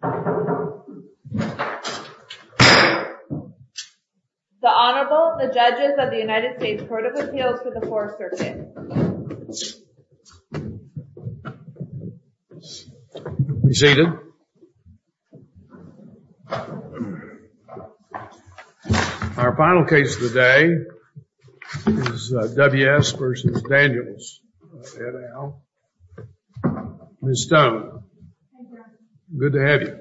The Honorable, the Judges of the United States Court of Appeals for the 4th Circuit. Be seated. Our final case of the day is W.S. v. Daniels. Ms. Stone, good to have you.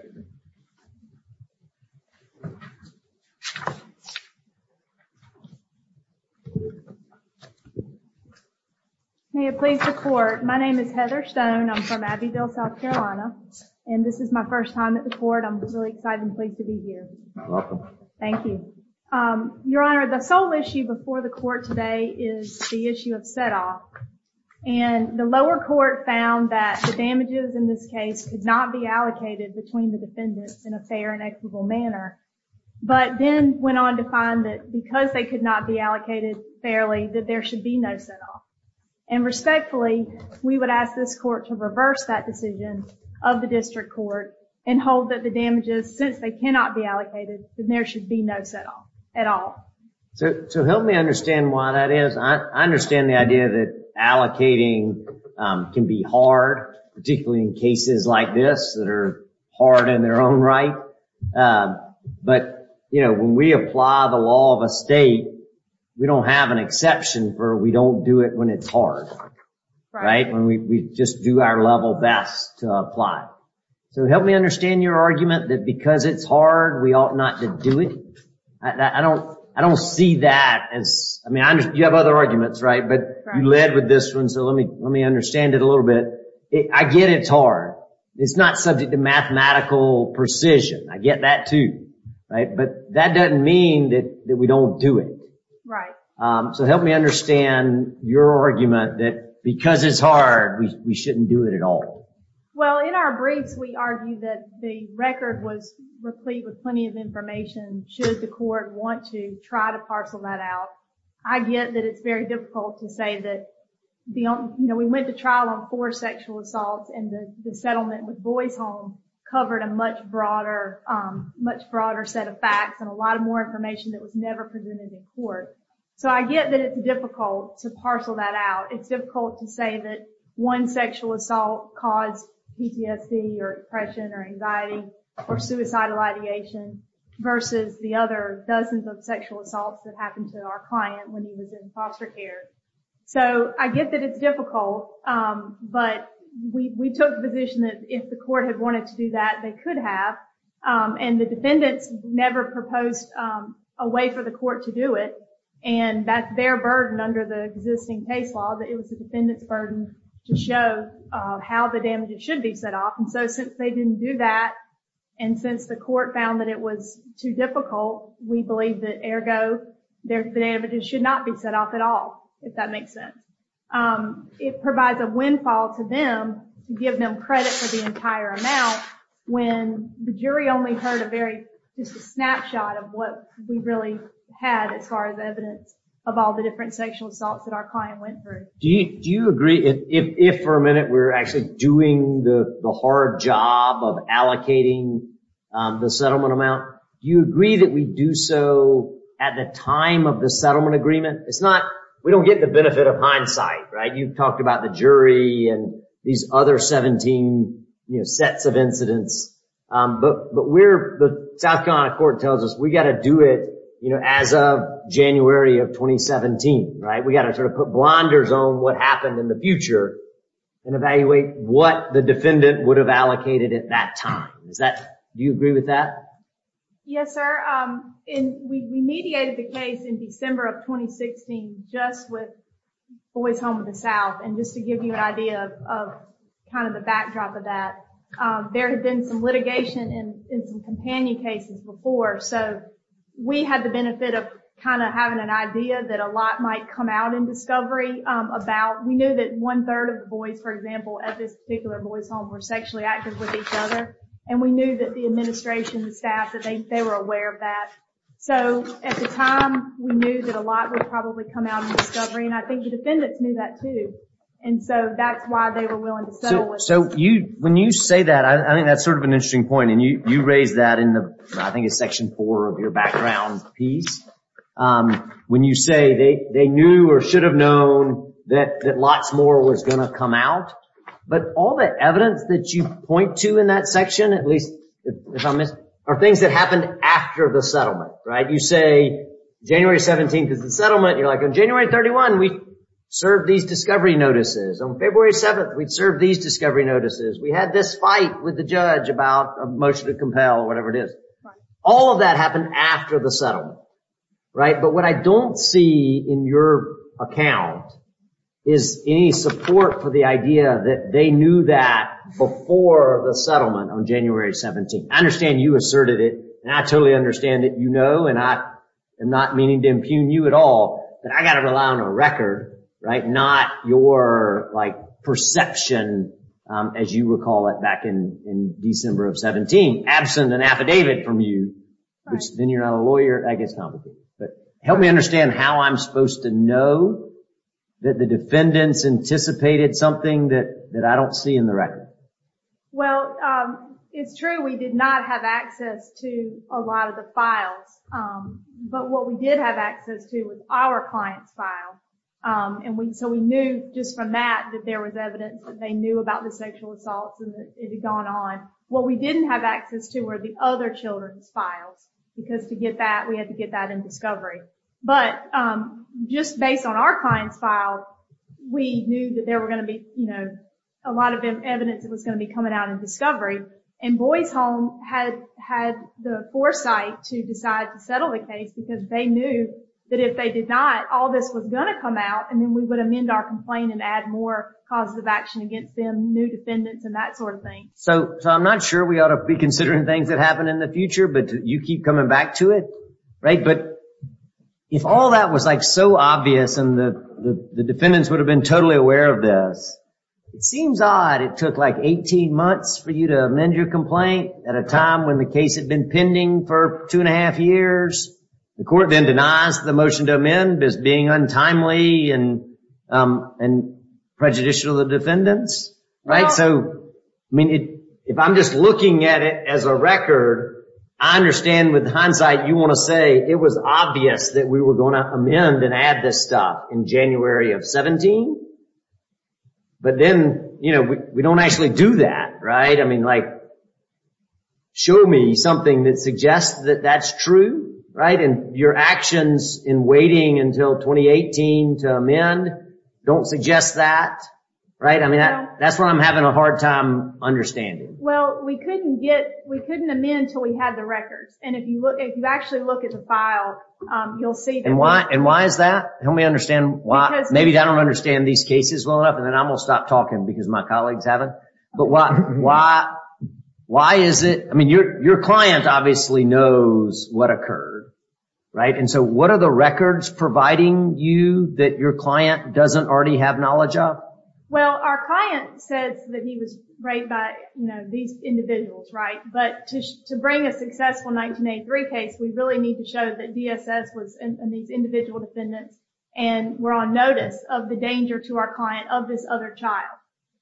May it please the Court. My name is Heather Stone. I'm from Abbeville, South Carolina. And this is my first time at the Court. I'm really excited and pleased to be here. Thank you. Your Honor, the sole issue before the Court today is the issue of set-off. And the lower court found that the damages in this case could not be allocated between the defendants in a fair and equitable manner. But then went on to find that because they could not be allocated fairly, that there should be no set-off. And respectfully, we would ask this Court to reverse that decision of the District Court and hold that the damages, since they cannot be allocated, that there should be no set-off at all. So help me understand why that is. I understand the idea that allocating can be hard, particularly in cases like this that are hard in their own right. But, you know, when we apply the law of a state, we don't have an exception for we don't do it when it's hard. Right. When we just do our level best to apply. So help me understand your argument that because it's hard, we ought not to do it. I don't I don't see that as I mean, you have other arguments. Right. But you led with this one. So let me let me understand it a little bit. I get it's hard. It's not subject to mathematical precision. I get that, too. Right. But that doesn't mean that we don't do it. Right. So help me understand your argument that because it's hard, we shouldn't do it at all. Well, in our briefs, we argue that the record was replete with plenty of information. Should the court want to try to parcel that out? I get that it's very difficult to say that, you know, we went to trial on four sexual assaults and the settlement with Boys Home covered a much broader, much broader set of facts and a lot of more information that was never presented in court. So I get that it's difficult to parcel that out. It's difficult to say that one sexual assault caused PTSD or depression or anxiety or suicidal ideation versus the other dozens of sexual assaults that happened to our client when he was in foster care. So I get that it's difficult, but we took the position that if the court had wanted to do that, they could have. And the defendants never proposed a way for the court to do it. And that's their burden under the existing case law, that it was the defendant's burden to show how the damages should be set off. And so since they didn't do that and since the court found that it was too difficult, we believe that ergo the damages should not be set off at all, if that makes sense. It provides a windfall to them to give them credit for the entire amount when the jury only heard a very snapshot of what we really had as far as evidence of all the different sexual assaults that our client went through. Do you agree if for a minute we're actually doing the hard job of allocating the settlement amount? Do you agree that we do so at the time of the settlement agreement? It's not we don't get the benefit of hindsight, right? You've talked about the jury and these other 17 sets of incidents. But the South Carolina court tells us we've got to do it as of January of 2017, right? We've got to sort of put blunders on what happened in the future and evaluate what the defendant would have allocated at that time. Do you agree with that? Yes, sir. We mediated the case in December of 2016 just with Boys Home of the South. And just to give you an idea of kind of the backdrop of that, there had been some litigation in some companion cases before. So we had the benefit of kind of having an idea that a lot might come out in discovery about. We knew that one third of the boys, for example, at this particular Boys Home were sexually active with each other. And we knew that the administration, the staff, that they were aware of that. So at the time, we knew that a lot would probably come out in discovery. And I think the defendants knew that, too. And so that's why they were willing to settle. So you when you say that, I think that's sort of an interesting point. And you raised that in the I think it's section four of your background piece. When you say they knew or should have known that lots more was going to come out. But all the evidence that you point to in that section, at least if I'm missing, are things that happened after the settlement. Right. You say January 17th is the settlement. You're like on January 31. We serve these discovery notices on February 7th. We'd serve these discovery notices. We had this fight with the judge about a motion to compel or whatever it is. All of that happened after the settlement. Right. But what I don't see in your account is any support for the idea that they knew that before the settlement on January 17th. I understand you asserted it. And I totally understand that, you know, and I am not meaning to impugn you at all. But I got to rely on a record. Right. Not your like perception, as you recall it back in December of 17, absent an affidavit from you. Then you're not a lawyer. I guess not. But help me understand how I'm supposed to know that the defendants anticipated something that I don't see in the record. Well, it's true. We did not have access to a lot of the files. But what we did have access to was our client's file. And so we knew just from that that there was evidence that they knew about the sexual assaults and it had gone on. What we didn't have access to were the other children's files because to get that we had to get that in discovery. But just based on our client's file, we knew that there were going to be, you know, a lot of evidence that was going to be coming out in discovery. And Boys Home had had the foresight to decide to settle the case because they knew that if they did not, all this was going to come out. And then we would amend our complaint and add more causes of action against them, new defendants and that sort of thing. So I'm not sure we ought to be considering things that happen in the future, but you keep coming back to it. Right. But if all that was like so obvious and the defendants would have been totally aware of this, it seems odd. It took like 18 months for you to amend your complaint at a time when the case had been pending for two and a half years. The court then denies the motion to amend as being untimely and prejudicial to the defendants. Right. So, I mean, if I'm just looking at it as a record, I understand with hindsight, you want to say it was obvious that we were going to amend and add this stuff in January of 17. But then, you know, we don't actually do that. Right. I mean, like. Show me something that suggests that that's true. Right. And your actions in waiting until 2018 to amend don't suggest that. Right. I mean, that's what I'm having a hard time understanding. Well, we couldn't get we couldn't amend until we had the records. And if you look, if you actually look at the file, you'll see. And why? And why is that? Help me understand why. Maybe I don't understand these cases well enough and then I will stop talking because my colleagues haven't. But why? Why? Why is it? I mean, your your client obviously knows what occurred. Right. And so what are the records providing you that your client doesn't already have knowledge of? Well, our client said that he was raped by these individuals. Right. But to bring a successful 1983 case, we really need to show that DSS was in these individual defendants. And we're on notice of the danger to our client of this other child,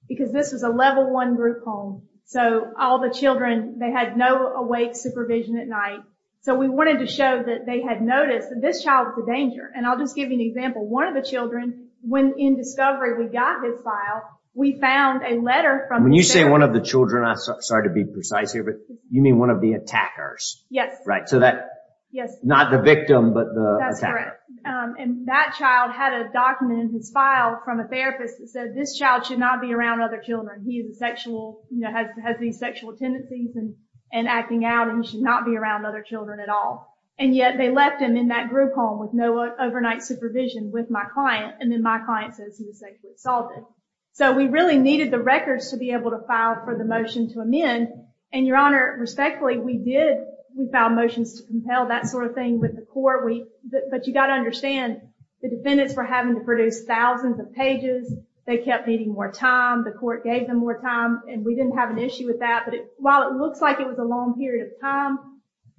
because this is a level one group home. So all the children, they had no awake supervision at night. So we wanted to show that they had noticed that this child was a danger. And I'll just give you an example. One of the children, when in discovery, we got his file. We found a letter from when you say one of the children. I'm sorry to be precise here, but you mean one of the attackers? Yes. Right. So that. Yes. Not the victim, but that's correct. And that child had a document in his file from a therapist that said this child should not be around other children. He is sexual, you know, has these sexual tendencies and and acting out and should not be around other children at all. And yet they left him in that group home with no overnight supervision with my client. And then my client says he was sexually assaulted. So we really needed the records to be able to file for the motion to amend. And your honor, respectfully, we did. We found motions to compel that sort of thing with the court. We. But you got to understand the defendants for having to produce thousands of pages. They kept needing more time. The court gave them more time and we didn't have an issue with that. But while it looks like it was a long period of time,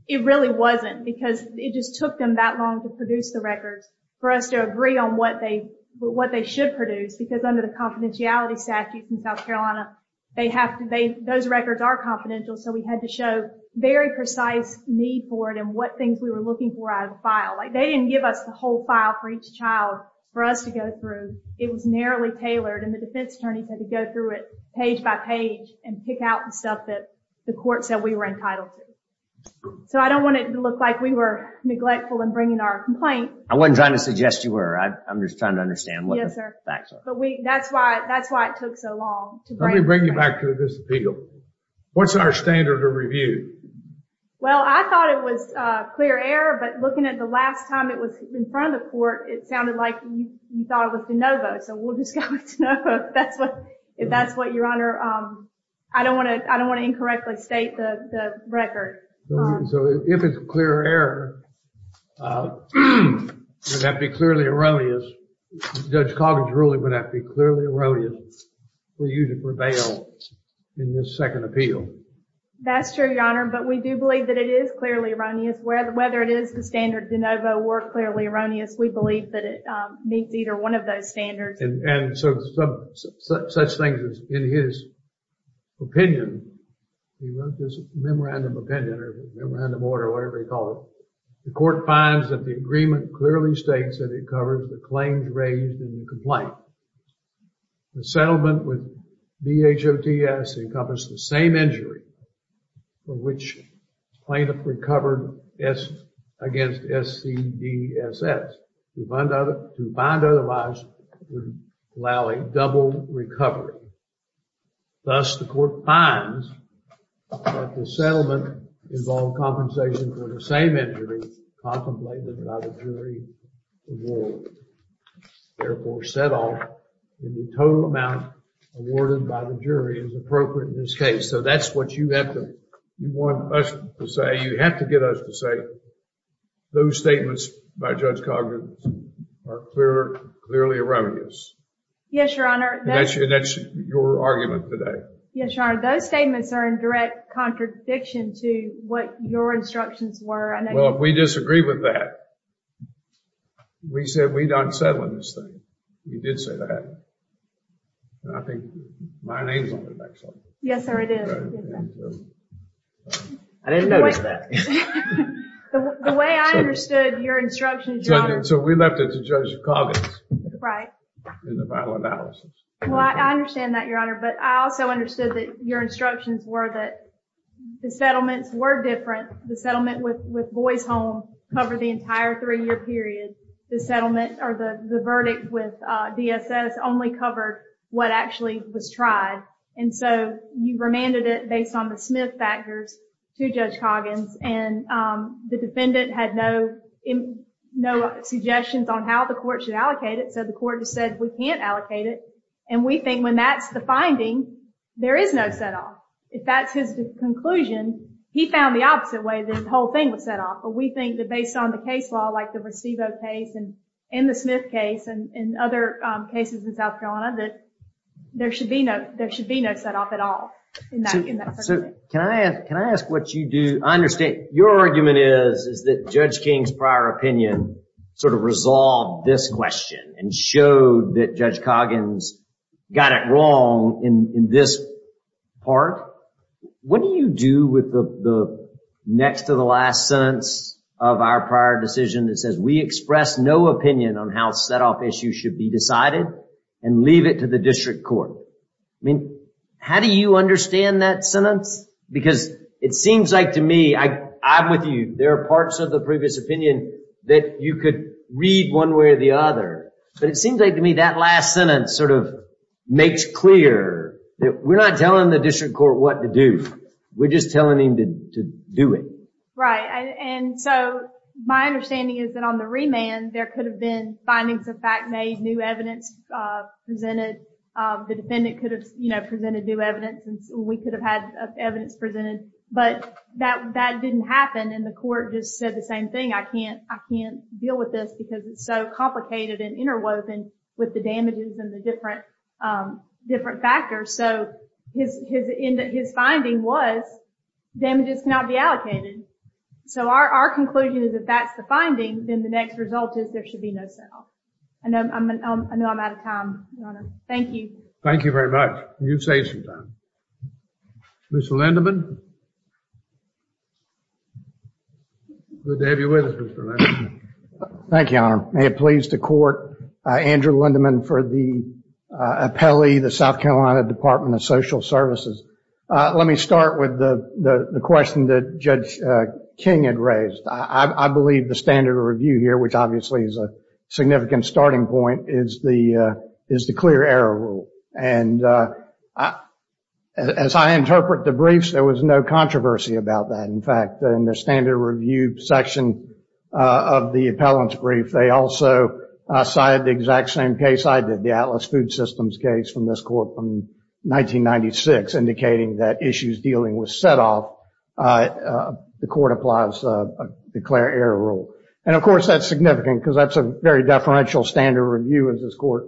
it really wasn't because it just took them that long to produce the records for us to agree on what they what they should produce. Because under the confidentiality statute in South Carolina, they have those records are confidential. So we had to show very precise need for it and what things we were looking for out of the file. Like they didn't give us the whole file for each child for us to go through. It was narrowly tailored and the defense attorneys had to go through it page by page and pick out the stuff that the court said we were entitled to. So I don't want to look like we were neglectful in bringing our complaint. I wasn't trying to suggest you were. I'm just trying to understand. Yes, sir. But that's why that's why it took so long to bring you back to this appeal. What's our standard of review? Well, I thought it was clear air. But looking at the last time it was in front of the court, it sounded like you thought it was the Nova. So we'll just go. That's what if that's what your honor. I don't want to I don't want to incorrectly state the record. So if it's clear air, that'd be clearly erroneous. Judge Coggins ruling would have to be clearly erroneous for you to prevail in this second appeal. That's true, your honor. But we do believe that it is clearly erroneous. Whether it is the standard DeNovo or clearly erroneous, we believe that it meets either one of those standards. And so such things as in his opinion, he wrote this memorandum of opinion or memorandum order, whatever you call it. The court finds that the agreement clearly states that it covers the claims raised in the complaint. The settlement with DHOTS encompassed the same injury for which plaintiff recovered against SCDSS. To find otherwise would allow a double recovery. Thus, the court finds that the settlement involved compensation for the same injury contemplated by the jury award. Therefore, set off in the total amount awarded by the jury is appropriate in this case. So that's what you have to want us to say. You have to get us to say those statements by Judge Coggins are clearly erroneous. Yes, your honor. That's your argument today. Yes, your honor. Those statements are in direct contradiction to what your instructions were. Well, if we disagree with that, we said we'd unsettle this thing. You did say that. I think my name is on the back side. Yes, sir, it is. I didn't notice that. The way I understood your instructions, your honor. So we left it to Judge Coggins. Right. In the final analysis. Well, I understand that, your honor. But I also understood that your instructions were that the settlements were different. The settlement with Boys Home covered the entire three-year period. The verdict with DSS only covered what actually was tried. And so you remanded it based on the Smith factors to Judge Coggins. And the defendant had no suggestions on how the court should allocate it. So the court just said we can't allocate it. And we think when that's the finding, there is no set off. If that's his conclusion, he found the opposite way the whole thing was set off. But we think that based on the case law, like the Vercevo case and the Smith case, and other cases in South Carolina, that there should be no set off at all. So can I ask what you do? I understand your argument is that Judge King's prior opinion sort of resolved this question and showed that Judge Coggins got it wrong in this part. What do you do with the next to the last sentence of our prior decision that says we express no opinion on how set off issues should be decided and leave it to the district court? I mean, how do you understand that sentence? Because it seems like to me, I'm with you. There are parts of the previous opinion that you could read one way or the other. But it seems like to me that last sentence sort of makes clear that we're not telling the district court what to do. We're just telling him to do it. Right. And so my understanding is that on the remand, there could have been findings of fact made, new evidence presented. The defendant could have presented new evidence. We could have had evidence presented. But that didn't happen, and the court just said the same thing. I can't deal with this because it's so complicated and interwoven with the damages and the different factors. So his finding was damages cannot be allocated. So our conclusion is if that's the finding, then the next result is there should be no sale. I know I'm out of time, Your Honor. Thank you. Thank you very much. You saved some time. Mr. Lindeman? Good to have you with us, Mr. Lindeman. Thank you, Your Honor. May it please the court, Andrew Lindeman for the appellee, the South Carolina Department of Social Services. Let me start with the question that Judge King had raised. I believe the standard review here, which obviously is a significant starting point, is the clear error rule. And as I interpret the briefs, there was no controversy about that. In fact, in the standard review section of the appellant's brief, they also cited the exact same case I did, the Atlas Food Systems case from this court from 1996, indicating that issues dealing with setoff, the court applies a clear error rule. And, of course, that's significant because that's a very deferential standard review, as this court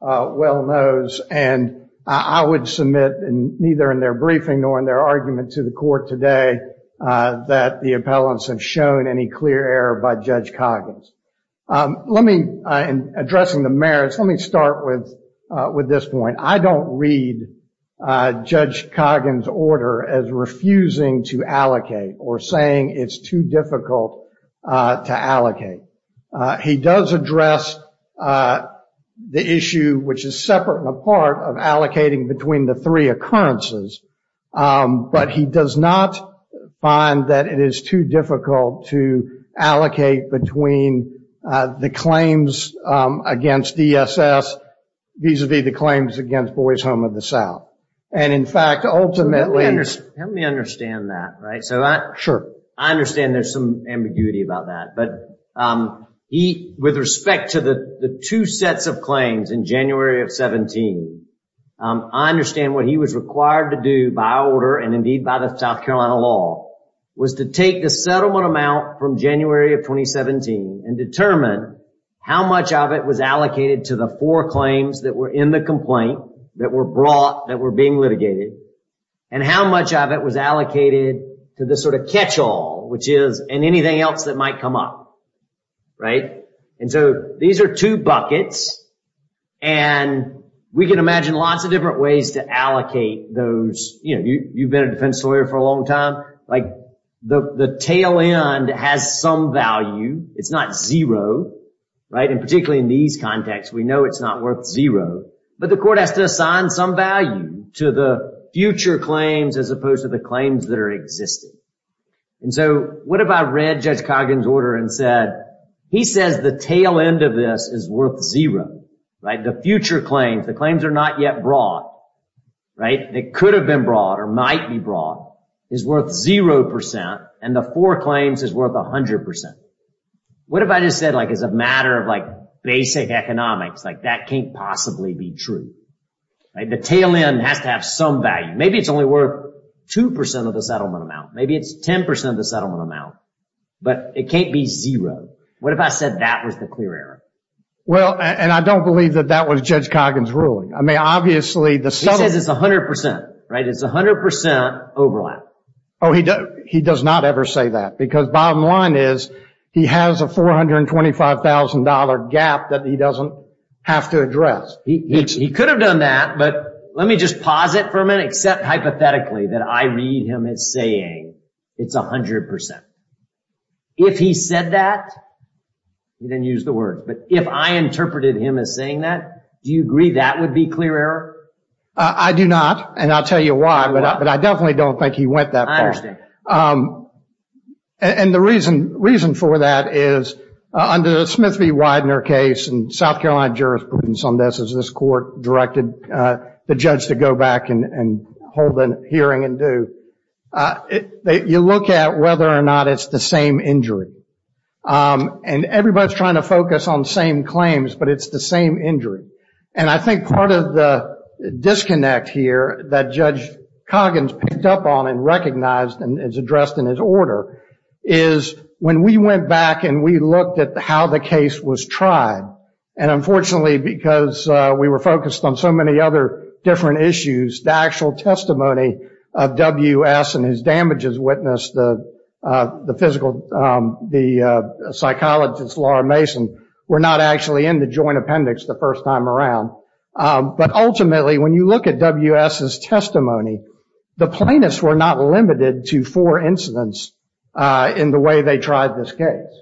well knows. And I would submit neither in their briefing nor in their argument to the court today that the appellants have shown any clear error by Judge Coggins. In addressing the merits, let me start with this point. I don't read Judge Coggins' order as refusing to allocate or saying it's too difficult to allocate. He does address the issue, which is separate and apart, of allocating between the three occurrences, but he does not find that it is too difficult to allocate between the claims against DSS vis-à-vis the claims against Boys Home of the South. And, in fact, ultimately… Let me understand that, right? Sure. I understand there's some ambiguity about that, but with respect to the two sets of claims in January of 17, I understand what he was required to do by order and, indeed, by the South Carolina law was to take the settlement amount from January of 2017 and determine how much of it was allocated to the four claims that were in the complaint that were brought, that were being litigated, and how much of it was allocated to the sort of catch-all, which is in anything else that might come up. Right? And so these are two buckets, and we can imagine lots of different ways to allocate those. You know, you've been a defense lawyer for a long time. Like, the tail end has some value. It's not zero, right? And particularly in these contexts, we know it's not worth zero, but the court has to assign some value to the future claims as opposed to the claims that are existing. And so what if I read Judge Coggins' order and said, he says the tail end of this is worth zero, right? The future claims, the claims are not yet brought, right? They could have been brought or might be brought is worth 0%, and the four claims is worth 100%. What if I just said, like, as a matter of, like, basic economics, like, that can't possibly be true, right? The tail end has to have some value. Maybe it's only worth 2% of the settlement amount. Maybe it's 10% of the settlement amount. But it can't be zero. What if I said that was the clear error? Well, and I don't believe that that was Judge Coggins' ruling. I mean, obviously, the settlement. He says it's 100%, right? It's 100% overlap. Oh, he does not ever say that because bottom line is, he has a $425,000 gap that he doesn't have to address. He could have done that, but let me just pause it for a minute, and accept hypothetically that I read him as saying it's 100%. If he said that, he didn't use the words, but if I interpreted him as saying that, do you agree that would be clear error? I do not, and I'll tell you why, but I definitely don't think he went that far. I understand. And the reason for that is under the Smith v. Widener case, and South Carolina jurisprudence on this, as this court directed the judge to go back and hold a hearing and do, you look at whether or not it's the same injury. And everybody's trying to focus on the same claims, but it's the same injury. And I think part of the disconnect here that Judge Coggins picked up on and recognized and is addressed in his order is when we went back and we looked at how the case was tried, and unfortunately because we were focused on so many other different issues, the actual testimony of W.S. and his damages witness, the psychologist Laura Mason, were not actually in the joint appendix the first time around. But ultimately when you look at W.S.'s testimony, the plaintiffs were not limited to four incidents in the way they tried this case.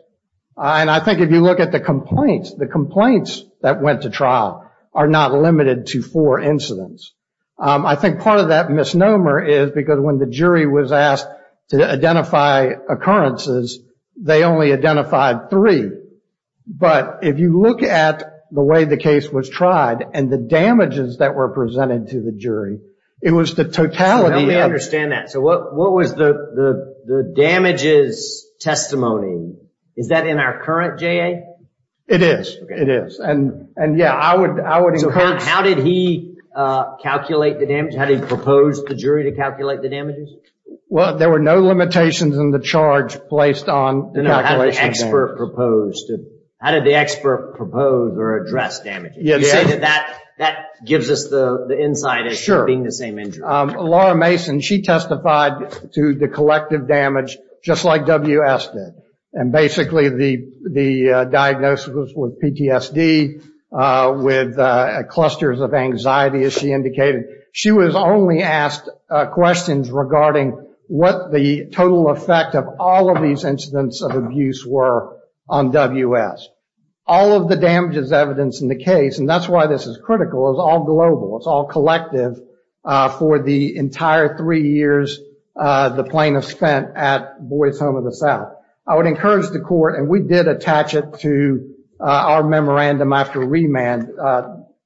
And I think if you look at the complaints, the complaints that went to trial are not limited to four incidents. I think part of that misnomer is because when the jury was asked to identify occurrences, they only identified three. But if you look at the way the case was tried and the damages that were presented to the jury, it was the totality of it. I understand that. So what was the damages testimony? Is that in our current JA? It is. It is. And, yeah, I would encourage. So how did he calculate the damage? How did he propose the jury to calculate the damages? Well, there were no limitations in the charge placed on the calculation of damages. How did the expert propose or address damages? You say that that gives us the insight as to being the same injury. Laura Mason, she testified to the collective damage just like W.S. did. And basically the diagnosis was PTSD with clusters of anxiety, as she indicated. She was only asked questions regarding what the total effect of all of these incidents of abuse were on W.S. All of the damages evidenced in the case, and that's why this is critical, is all global. It's all collective for the entire three years the plaintiff spent at Boyd's Home of the South. I would encourage the court, and we did attach it to our memorandum after remand,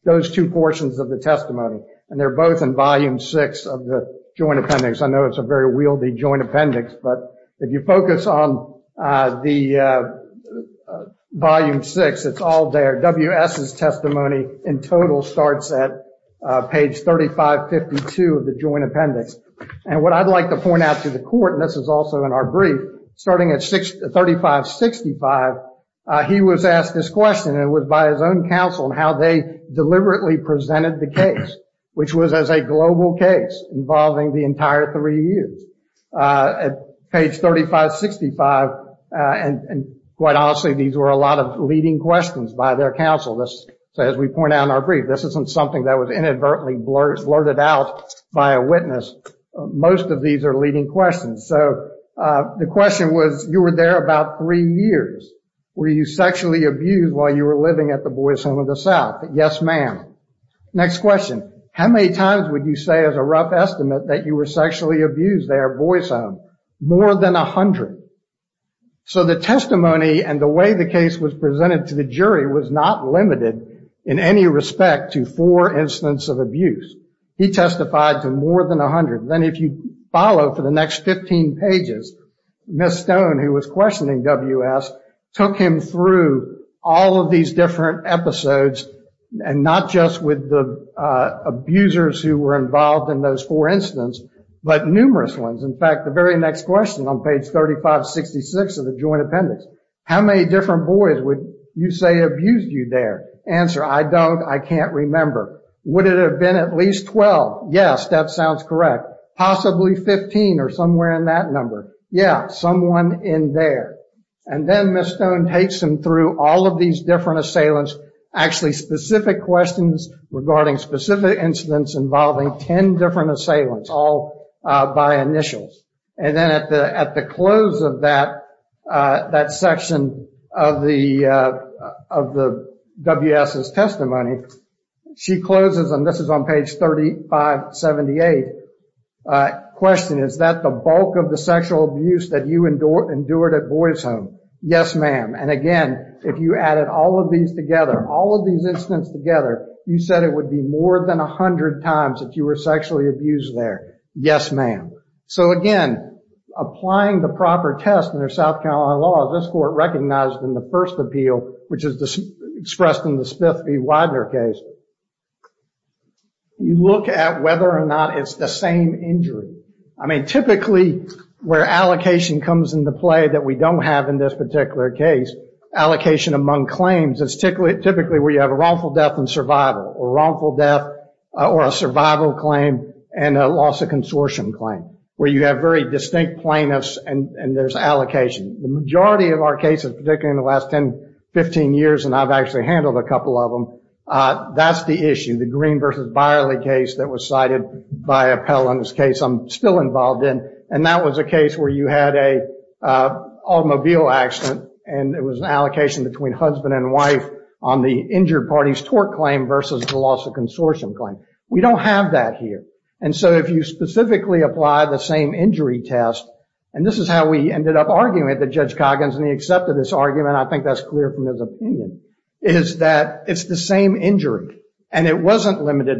those two portions of the testimony. And they're both in volume six of the joint appendix. I know it's a very wieldy joint appendix, but if you focus on the volume six, it's all there. W.S.'s testimony in total starts at page 3552 of the joint appendix. And what I'd like to point out to the court, and this is also in our brief, starting at 3565, he was asked this question. It was by his own counsel and how they deliberately presented the case, which was as a global case involving the entire three years. Page 3565, and quite honestly, these were a lot of leading questions by their counsel. As we point out in our brief, this isn't something that was inadvertently blurted out by a witness. Most of these are leading questions. So the question was, you were there about three years. Were you sexually abused while you were living at the Boyd's Home of the South? Yes, ma'am. Next question. How many times would you say as a rough estimate that you were sexually abused there at Boyd's Home? More than a hundred. So the testimony and the way the case was presented to the jury was not limited in any respect to four instances of abuse. He testified to more than a hundred. Then if you follow for the next 15 pages, Miss Stone, who was questioning W.S., took him through all of these different episodes and not just with the abusers who were involved in those four incidents, but numerous ones. In fact, the very next question on page 3566 of the joint appendix, how many different boys would you say abused you there? Answer, I don't, I can't remember. Would it have been at least 12? Yes, that sounds correct. Possibly 15 or somewhere in that number. Yeah, someone in there. And then Miss Stone takes him through all of these different assailants, actually specific questions regarding specific incidents involving 10 different assailants, all by initials. And then at the close of that section of the W.S.'s testimony, she closes, and this is on page 3578, question, is that the bulk of the sexual abuse that you endured at Boy's Home? Yes, ma'am. And again, if you added all of these together, all of these incidents together, you said it would be more than a hundred times that you were sexually abused there. Yes, ma'am. So again, applying the proper test under South Carolina law, this court recognized in the first appeal, which is expressed in the Smith v. Widener case, you look at whether or not it's the same injury. I mean, typically where allocation comes into play that we don't have in this particular case, allocation among claims is typically where you have a wrongful death and survival, or wrongful death or a survival claim and a loss of consortium claim, where you have very distinct plaintiffs and there's allocation. The majority of our cases, particularly in the last 10, 15 years, and I've actually handled a couple of them, that's the issue, the Green v. Byerly case that was cited by Appell in this case I'm still involved in. And that was a case where you had a automobile accident and it was an allocation between husband and wife on the injured party's tort claim versus the loss of consortium claim. We don't have that here. And so if you specifically apply the same injury test, and this is how we ended up arguing with Judge Coggins, and he accepted this argument, I think that's clear from his opinion, is that it's the same injury. And it wasn't limited.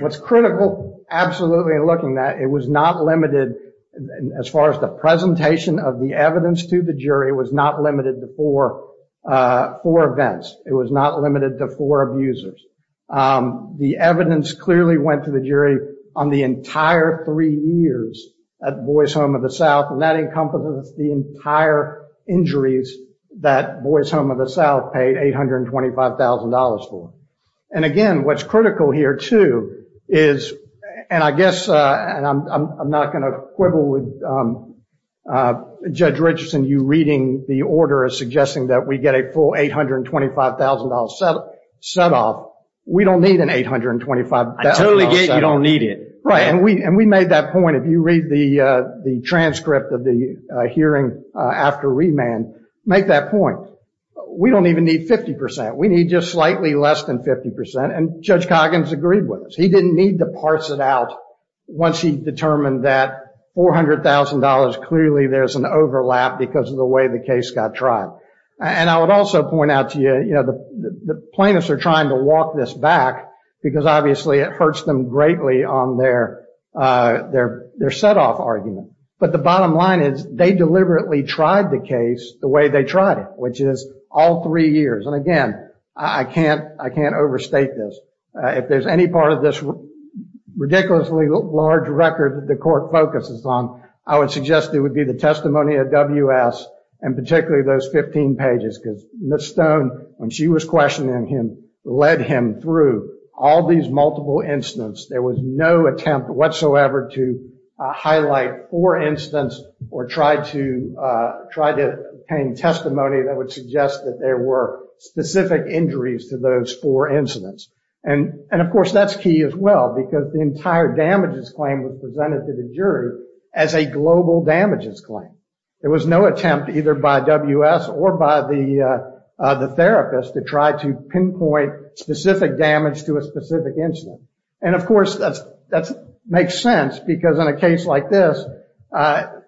What's critical, absolutely, in looking at it, it was not limited as far as the presentation of the evidence to the jury, it was not limited to four events. It was not limited to four abusers. The evidence clearly went to the jury on the entire three years at Boy's Home of the South, and that encompasses the entire injuries that Boy's Home of the South paid $825,000 for. And again, what's critical here, too, is, and I guess I'm not going to quibble with Judge Richardson, you reading the order as suggesting that we get a full $825,000 set-off. We don't need an $825,000 set-off. I totally get you don't need it. Right. And we made that point, if you read the transcript of the hearing after remand, make that point. We don't even need 50%. We need just slightly less than 50%. And Judge Coggins agreed with us. He didn't need to parse it out once he determined that $400,000, clearly there's an overlap because of the way the case got tried. And I would also point out to you, you know, the plaintiffs are trying to walk this back because obviously it hurts them greatly on their set-off argument. But the bottom line is they deliberately tried the case the way they tried it, which is all three years. And again, I can't overstate this. If there's any part of this ridiculously large record that the court focuses on, I would suggest it would be the testimony of W.S. and particularly those 15 pages because Ms. Stone, when she was questioning him, led him through all these multiple incidents. There was no attempt whatsoever to highlight four incidents or try to obtain testimony that would suggest that there were specific injuries to those four incidents. And, of course, that's key as well because the entire damages claim was presented to the jury as a global damages claim. There was no attempt either by W.S. or by the therapist to try to pinpoint specific damage to a specific incident. And, of course, that makes sense because in a case like this, the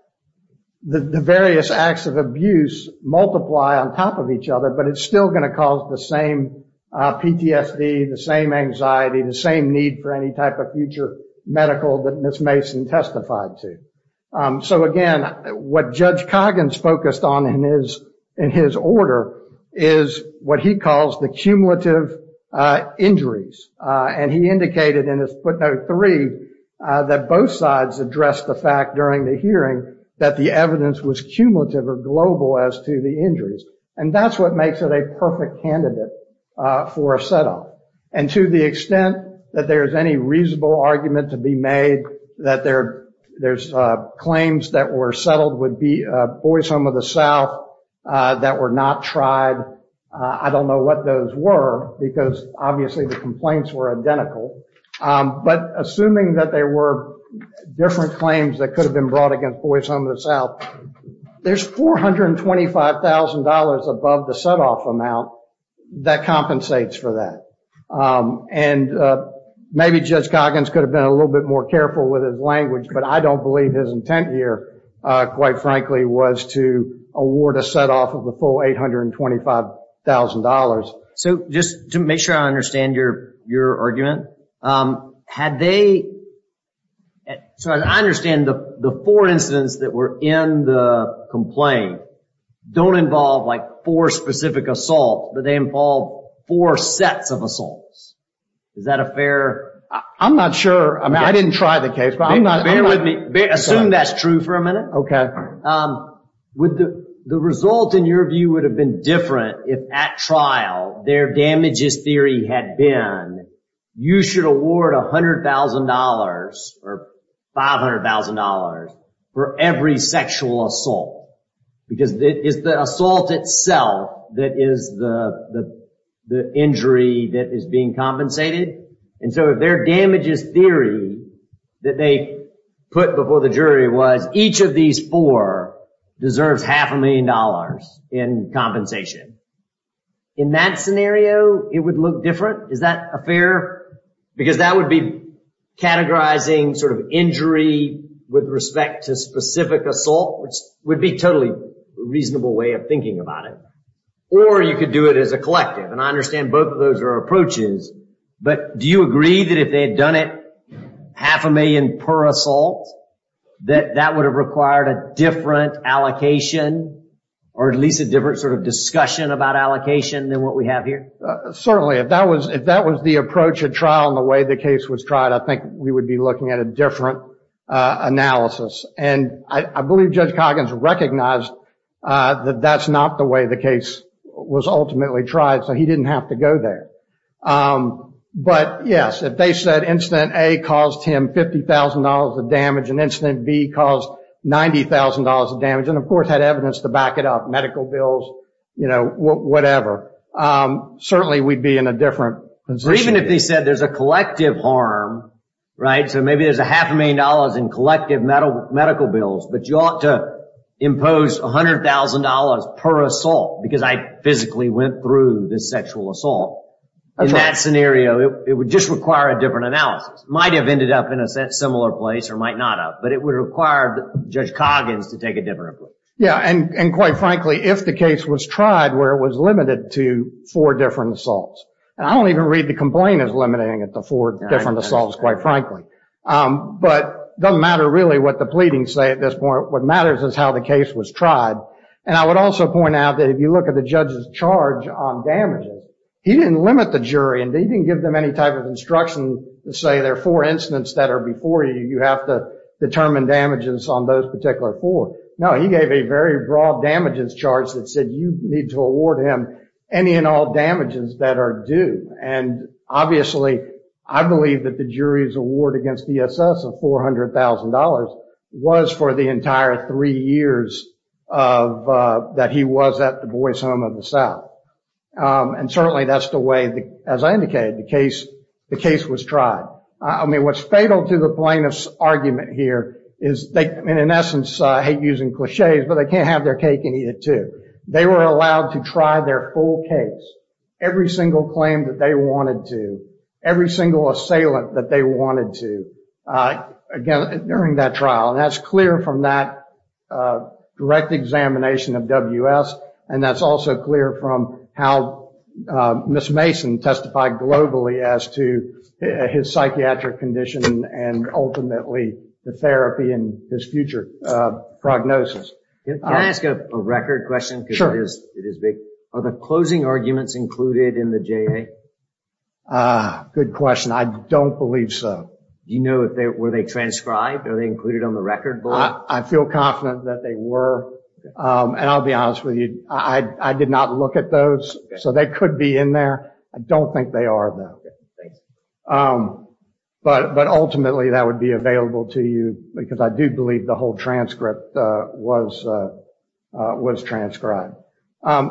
various acts of abuse multiply on top of each other, but it's still going to cause the same PTSD, the same anxiety, the same need for any type of future medical that Ms. Mason testified to. So, again, what Judge Coggins focused on in his order is what he calls the cumulative injuries. And he indicated in his footnote three that both sides addressed the fact during the hearing that the evidence was cumulative or global as to the injuries. And that's what makes it a perfect candidate for a set up. And to the extent that there is any reasonable argument to be made that there's claims that were settled with the Boys Home of the South that were not tried, I don't know what those were because obviously the complaints were identical. But assuming that there were different claims that could have been brought against Boys Home of the South, there's $425,000 above the set off amount that compensates for that. And maybe Judge Coggins could have been a little bit more careful with his language, but I don't believe his intent here, quite frankly, was to award a set off of the full $825,000. So just to make sure I understand your argument. Had they, so I understand the four incidents that were in the complaint don't involve like four specific assaults, but they involve four sets of assaults. Is that a fair? I'm not sure. I mean, I didn't try the case, but I'm not. Bear with me. Assume that's true for a minute. The result in your view would have been different if at trial their damages theory had been you should award $100,000 or $500,000 for every sexual assault. Because it is the assault itself that is the injury that is being compensated. And so their damages theory that they put before the jury was each of these four deserves half a million dollars in compensation. In that scenario, it would look different. Is that a fair? Because that would be categorizing sort of injury with respect to specific assault, which would be totally reasonable way of thinking about it. Or you could do it as a collective. And I understand both of those are approaches. But do you agree that if they had done it half a million per assault, that that would have required a different allocation or at least a different sort of discussion about allocation than what we have here? Certainly, if that was if that was the approach at trial and the way the case was tried, I think we would be looking at a different analysis. And I believe Judge Coggins recognized that that's not the way the case was ultimately tried. So he didn't have to go there. But yes, if they said incident A caused him $50,000 of damage and incident B caused $90,000 of damage and of course had evidence to back it up, medical bills, you know, whatever. Certainly we'd be in a different position. Even if they said there's a collective harm, right, so maybe there's a half a million dollars in collective medical bills, but you ought to impose $100,000 per assault because I physically went through this sexual assault. In that scenario, it would just require a different analysis. Might have ended up in a similar place or might not have, but it would require Judge Coggins to take a different approach. Yeah, and quite frankly, if the case was tried where it was limited to four different assaults. And I don't even read the complaint as limiting it to four different assaults, quite frankly. But it doesn't matter really what the pleadings say at this point. What matters is how the case was tried. And I would also point out that if you look at the judge's charge on damages, he didn't limit the jury and he didn't give them any type of instruction to say there are four incidents that are before you. You have to determine damages on those particular four. No, he gave a very broad damages charge that said you need to award him any and all damages that are due. And obviously, I believe that the jury's award against DSS of $400,000 was for the entire three years that he was at Du Bois Home of the South. And certainly that's the way, as I indicated, the case was tried. I mean, what's fatal to the plaintiff's argument here is they, in essence, hate using cliches, but they can't have their cake and eat it, too. They were allowed to try their full case, every single claim that they wanted to, every single assailant that they wanted to during that trial. And that's clear from that direct examination of WS. And that's also clear from how Ms. Mason testified globally as to his psychiatric condition and ultimately the therapy and his future prognosis. Can I ask a record question? Sure. It is big. Are the closing arguments included in the JA? Good question. I don't believe so. You know, were they transcribed? Are they included on the record? I feel confident that they were. And I'll be honest with you, I did not look at those. So they could be in there. I don't think they are, though. But ultimately, that would be available to you because I do believe the whole transcript was transcribed.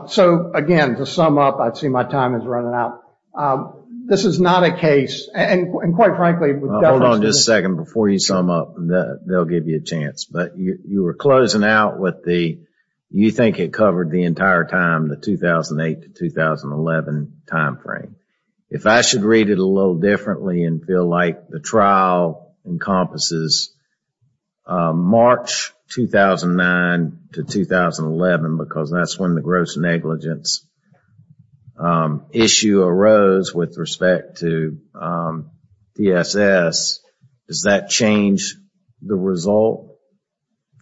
So, again, to sum up, I see my time is running out. This is not a case. And quite frankly, without— Hold on just a second. Before you sum up, they'll give you a chance. But you were closing out with the, you think it covered the entire time, the 2008 to 2011 timeframe. If I should read it a little differently and feel like the trial encompasses March 2009 to 2011, because that's when the gross negligence issue arose with respect to DSS, does that change the result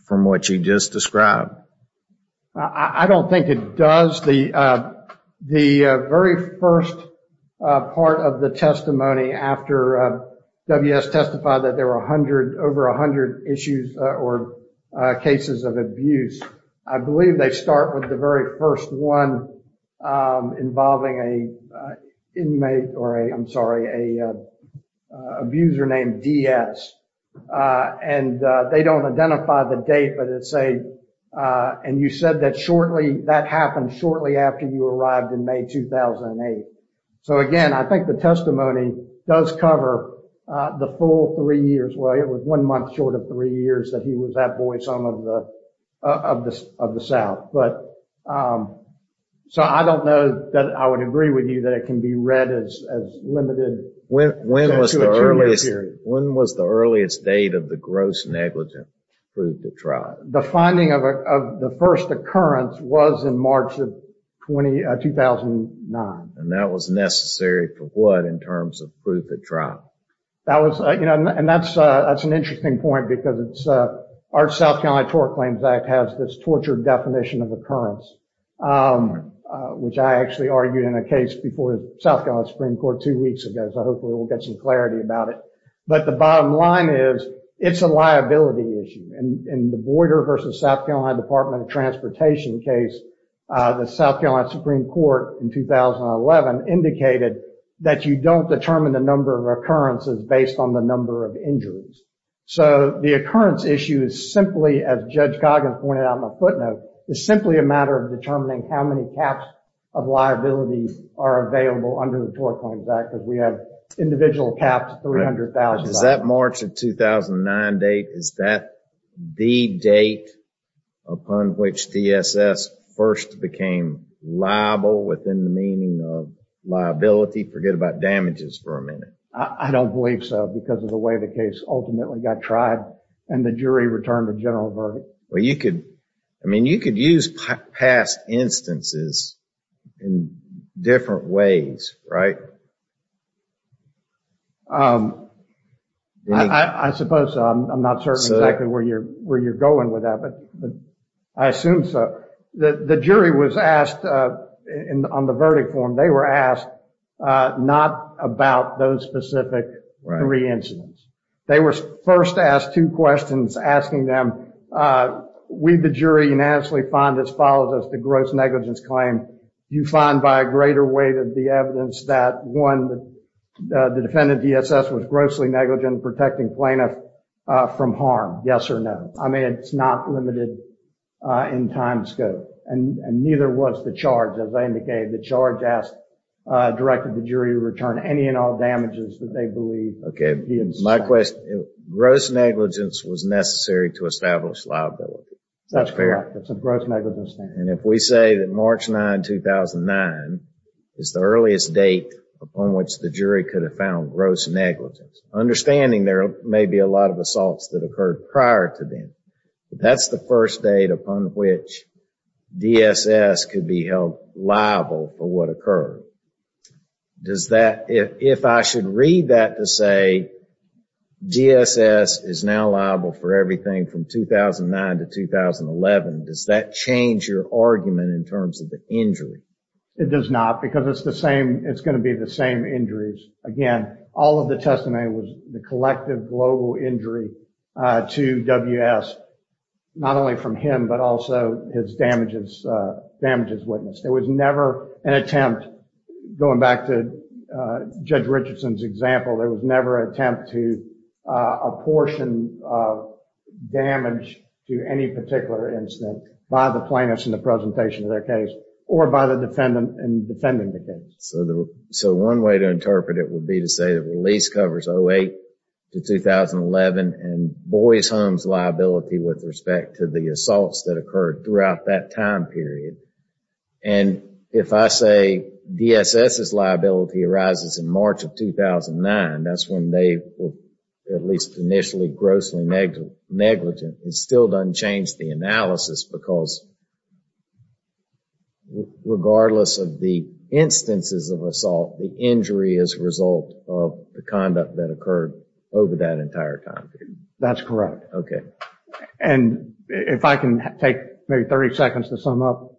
from what you just described? I don't think it does. The very first part of the testimony after WS testified that there were over 100 issues or cases of abuse, I believe they start with the very first one involving an inmate or, I'm sorry, an abuser named DS. And they don't identify the date, but it's a— And you said that shortly, that happened shortly after you arrived in May 2008. So, again, I think the testimony does cover the full three years. Well, it was one month short of three years that he was at Boyd's home of the South. But, so I don't know that I would agree with you that it can be read as limited. When was the earliest date of the gross negligence proved to try? The finding of the first occurrence was in March of 2009. And that was necessary for what in terms of proof it tried? That was—you know, and that's an interesting point because it's— our South Carolina Tort Claims Act has this torture definition of occurrence, which I actually argued in a case before the South Carolina Supreme Court two weeks ago, so hopefully we'll get some clarity about it. But the bottom line is, it's a liability issue. In the Boyder v. South Carolina Department of Transportation case, the South Carolina Supreme Court in 2011 indicated that you don't determine the number of occurrences based on the number of injuries. So the occurrence issue is simply, as Judge Coggins pointed out in the footnote, is simply a matter of determining how many caps of liability are available under the Tort Claims Act because we have individual caps of 300,000. Is that March of 2009 date? Is that the date upon which DSS first became liable within the meaning of liability? Forget about damages for a minute. I don't believe so because of the way the case ultimately got tried and the jury returned a general verdict. I mean, you could use past instances in different ways, right? I suppose I'm not certain exactly where you're going with that, but I assume so. The jury was asked on the verdict form, they were asked not about those specific three incidents. They were first asked two questions asking them, we, the jury, unanimously find as follows as the gross negligence claim, do you find by a greater way than the evidence that, one, the defendant, DSS, was grossly negligent in protecting plaintiff from harm, yes or no? I mean, it's not limited in time scope, and neither was the charge, as I indicated. The charge asked, directed the jury to return any and all damages that they believe. Okay. My question, gross negligence was necessary to establish liability. That's correct. It's a gross negligence claim. And if we say that March 9, 2009 is the earliest date upon which the jury could have found gross negligence, understanding there may be a lot of assaults that occurred prior to then, but that's the first date upon which DSS could be held liable for what occurred. Does that, if I should read that to say, DSS is now liable for everything from 2009 to 2011, does that change your argument in terms of the injury? It does not, because it's the same, it's going to be the same injuries. Again, all of the testimony was the collective global injury to WS, not only from him, but also his damages, damages witnessed. There was never an attempt, going back to Judge Richardson's example, there was never an attempt to apportion damage to any particular incident by the plaintiffs in the presentation of their case, or by the defendant in defending the case. So one way to interpret it would be to say the release covers 08 to 2011 and Boyd's home's liability with respect to the assaults that occurred throughout that time period. And if I say DSS's liability arises in March of 2009, that's when they were at least initially grossly negligent, it still doesn't change the analysis because regardless of the instances of assault, the injury is a result of the conduct that occurred over that entire time period. That's correct. Okay. And if I can take maybe 30 seconds to sum up.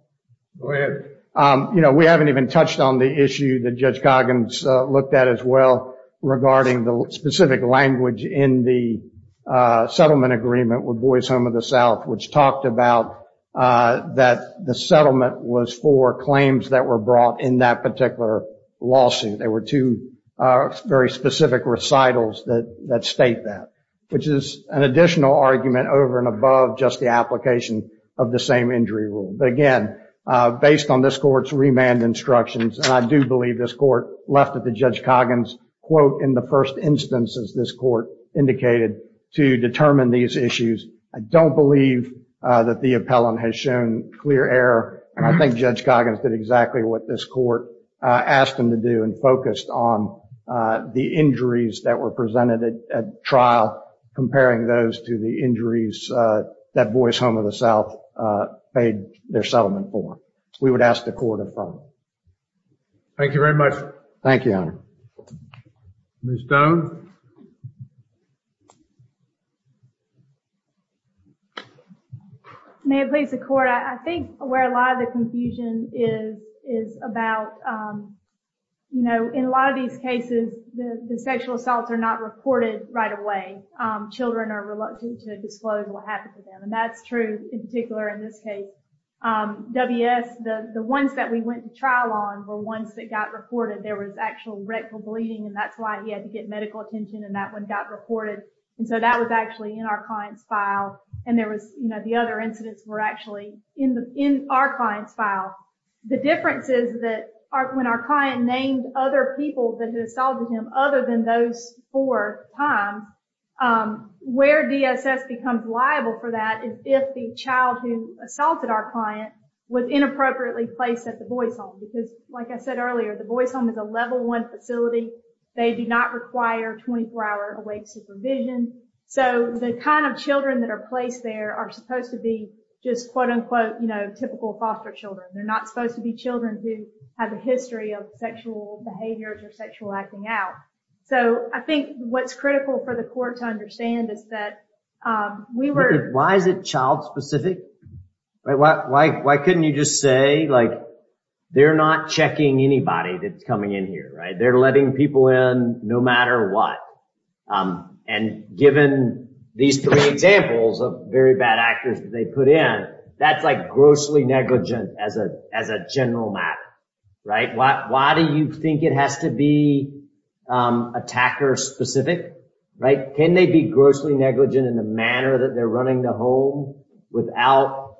You know, we haven't even touched on the issue that Judge Goggins looked at as well, regarding the specific language in the settlement agreement with Boyd's Home of the South, which talked about that the settlement was for claims that were brought in that particular lawsuit. There were two very specific recitals that state that, which is an additional argument over and above just the application of the same injury rule. But again, based on this court's remand instructions, and I do believe this court left it to Judge Coggins, quote, in the first instances this court indicated to determine these issues. I don't believe that the appellant has shown clear error. I think Judge Coggins did exactly what this court asked him to do and focused on the injuries that were presented at trial, comparing those to the injuries that Boyd's Home of the South paid their settlement for. We would ask the court to affirm. Thank you very much. Thank you, Your Honor. Ms. Stone? Ms. Stone? May it please the court? I think where a lot of the confusion is about, you know, in a lot of these cases, the sexual assaults are not reported right away. Children are reluctant to disclose what happened to them, and that's true in particular in this case. W.S., the ones that we went to trial on were ones that got reported. There was actual rectal bleeding, and that's why he had to get medical attention, and that one got reported. And so that was actually in our client's file, and there was, you know, the other incidents were actually in our client's file. The difference is that when our client named other people that had assaulted him other than those four times, where DSS becomes liable for that is if the child who assaulted our client was inappropriately placed at the Boyd's Home, because like I said earlier, the Boyd's Home is a level one facility. They do not require 24-hour awake supervision. So the kind of children that are placed there are supposed to be just quote-unquote, you know, typical foster children. They're not supposed to be children who have a history of sexual behaviors or sexual acting out. So I think what's critical for the court to understand is that we were… Why is it child-specific? Why couldn't you just say, like, they're not checking anybody that's coming in here, right? They're letting people in no matter what. And given these three examples of very bad actors that they put in, that's like grossly negligent as a general matter, right? Why do you think it has to be attacker-specific, right? Can they be grossly negligent in the manner that they're running the home without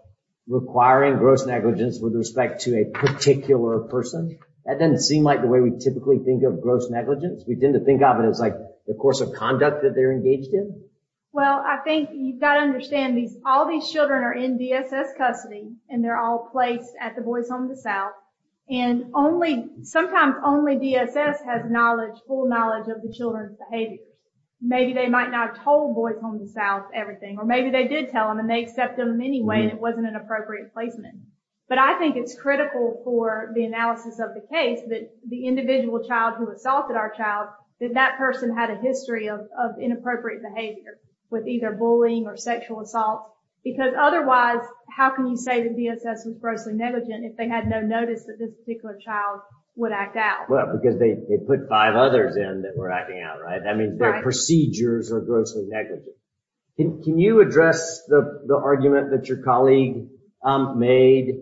requiring gross negligence with respect to a particular person? That doesn't seem like the way we typically think of gross negligence. We tend to think of it as like the course of conduct that they're engaged in. Well, I think you've got to understand all these children are in DSS custody and they're all placed at the Boyd's Home in the South. And sometimes only DSS has full knowledge of the children's behavior. Maybe they might not have told Boyd's Home in the South everything, or maybe they did tell them and they accept them anyway and it wasn't an appropriate placement. But I think it's critical for the analysis of the case that the individual child who assaulted our child, that that person had a history of inappropriate behavior with either bullying or sexual assault. Because otherwise, how can you say that DSS was grossly negligent if they had no notice that this particular child would act out? Well, because they put five others in that were acting out, right? I mean, their procedures are grossly negligent. Can you address the argument that your colleague made,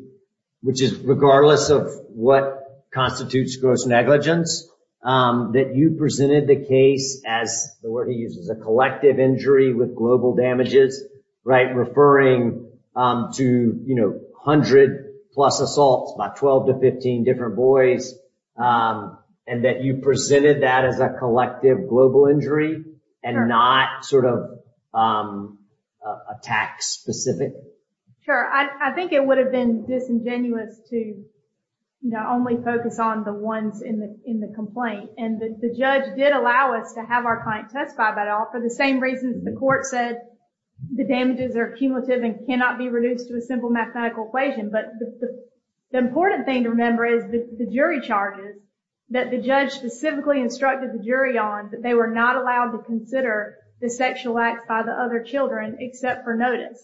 which is regardless of what constitutes gross negligence, that you presented the case as, the word he uses, a collective injury with global damages, right? Referring to, you know, 100 plus assaults by 12 to 15 different boys, and that you presented that as a collective global injury and not sort of a tax-specific? Sure. I think it would have been disingenuous to, you know, only focus on the ones in the complaint. And the judge did allow us to have our client testify, but for the same reasons the court said the damages are cumulative and cannot be reduced to a simple mathematical equation. But the important thing to remember is the jury charges that the judge specifically instructed the jury on, that they were not allowed to consider the sexual acts by the other children except for notice.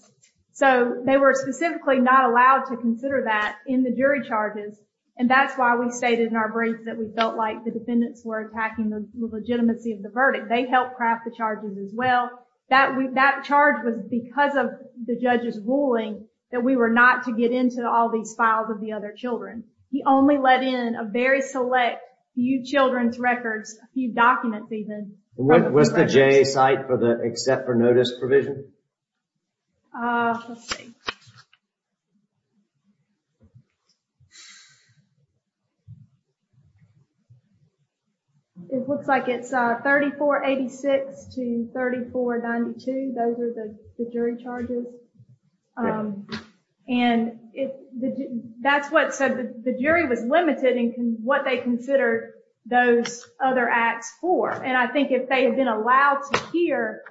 So they were specifically not allowed to consider that in the jury charges, and that's why we stated in our brief that we felt like the defendants were attacking the legitimacy of the verdict. They helped craft the charges as well. That charge was because of the judge's ruling that we were not to get into all these files of the other children. He only let in a very select few children's records, a few documents even. Was the J site for the except for notice provision? Let's see. It looks like it's 3486 to 3492. Those are the jury charges. And that's what said the jury was limited in what they considered those other acts for. And I think if they had been allowed to hear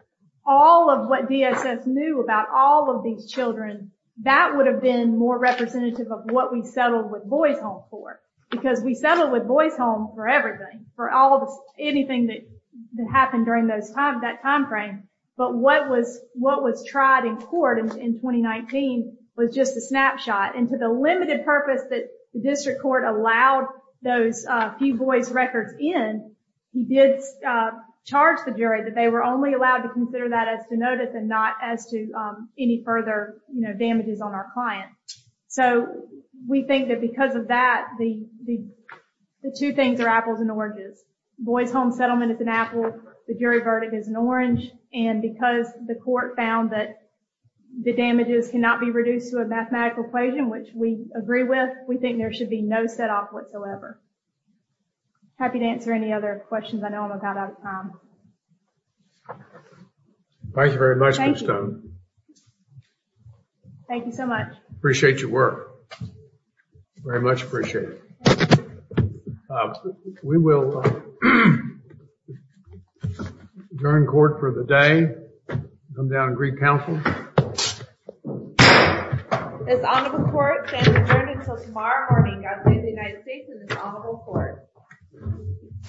all of what DSS knew about all of these children, that would have been more representative of what we settled with Boys Home for because we settled with Boys Home for everything, for anything that happened during that time frame. But what was tried in court in 2019 was just a snapshot. And to the limited purpose that the district court allowed those few boys records in, he did charge the jury that they were only allowed to consider that as to notice and not as to any further, you know, damages on our client. So we think that because of that, the two things are apples and oranges. Boys Home settlement is an apple. The jury verdict is an orange. And because the court found that the damages cannot be reduced to a mathematical equation, which we agree with, we think there should be no set off whatsoever. Happy to answer any other questions. I know I'm about out of time. Thank you very much. Thank you so much. Appreciate your work very much. Appreciate it. We will adjourn court for the day. Come down and greet counsel. It's on to the court adjourned until tomorrow morning. God save the United States and his honorable court.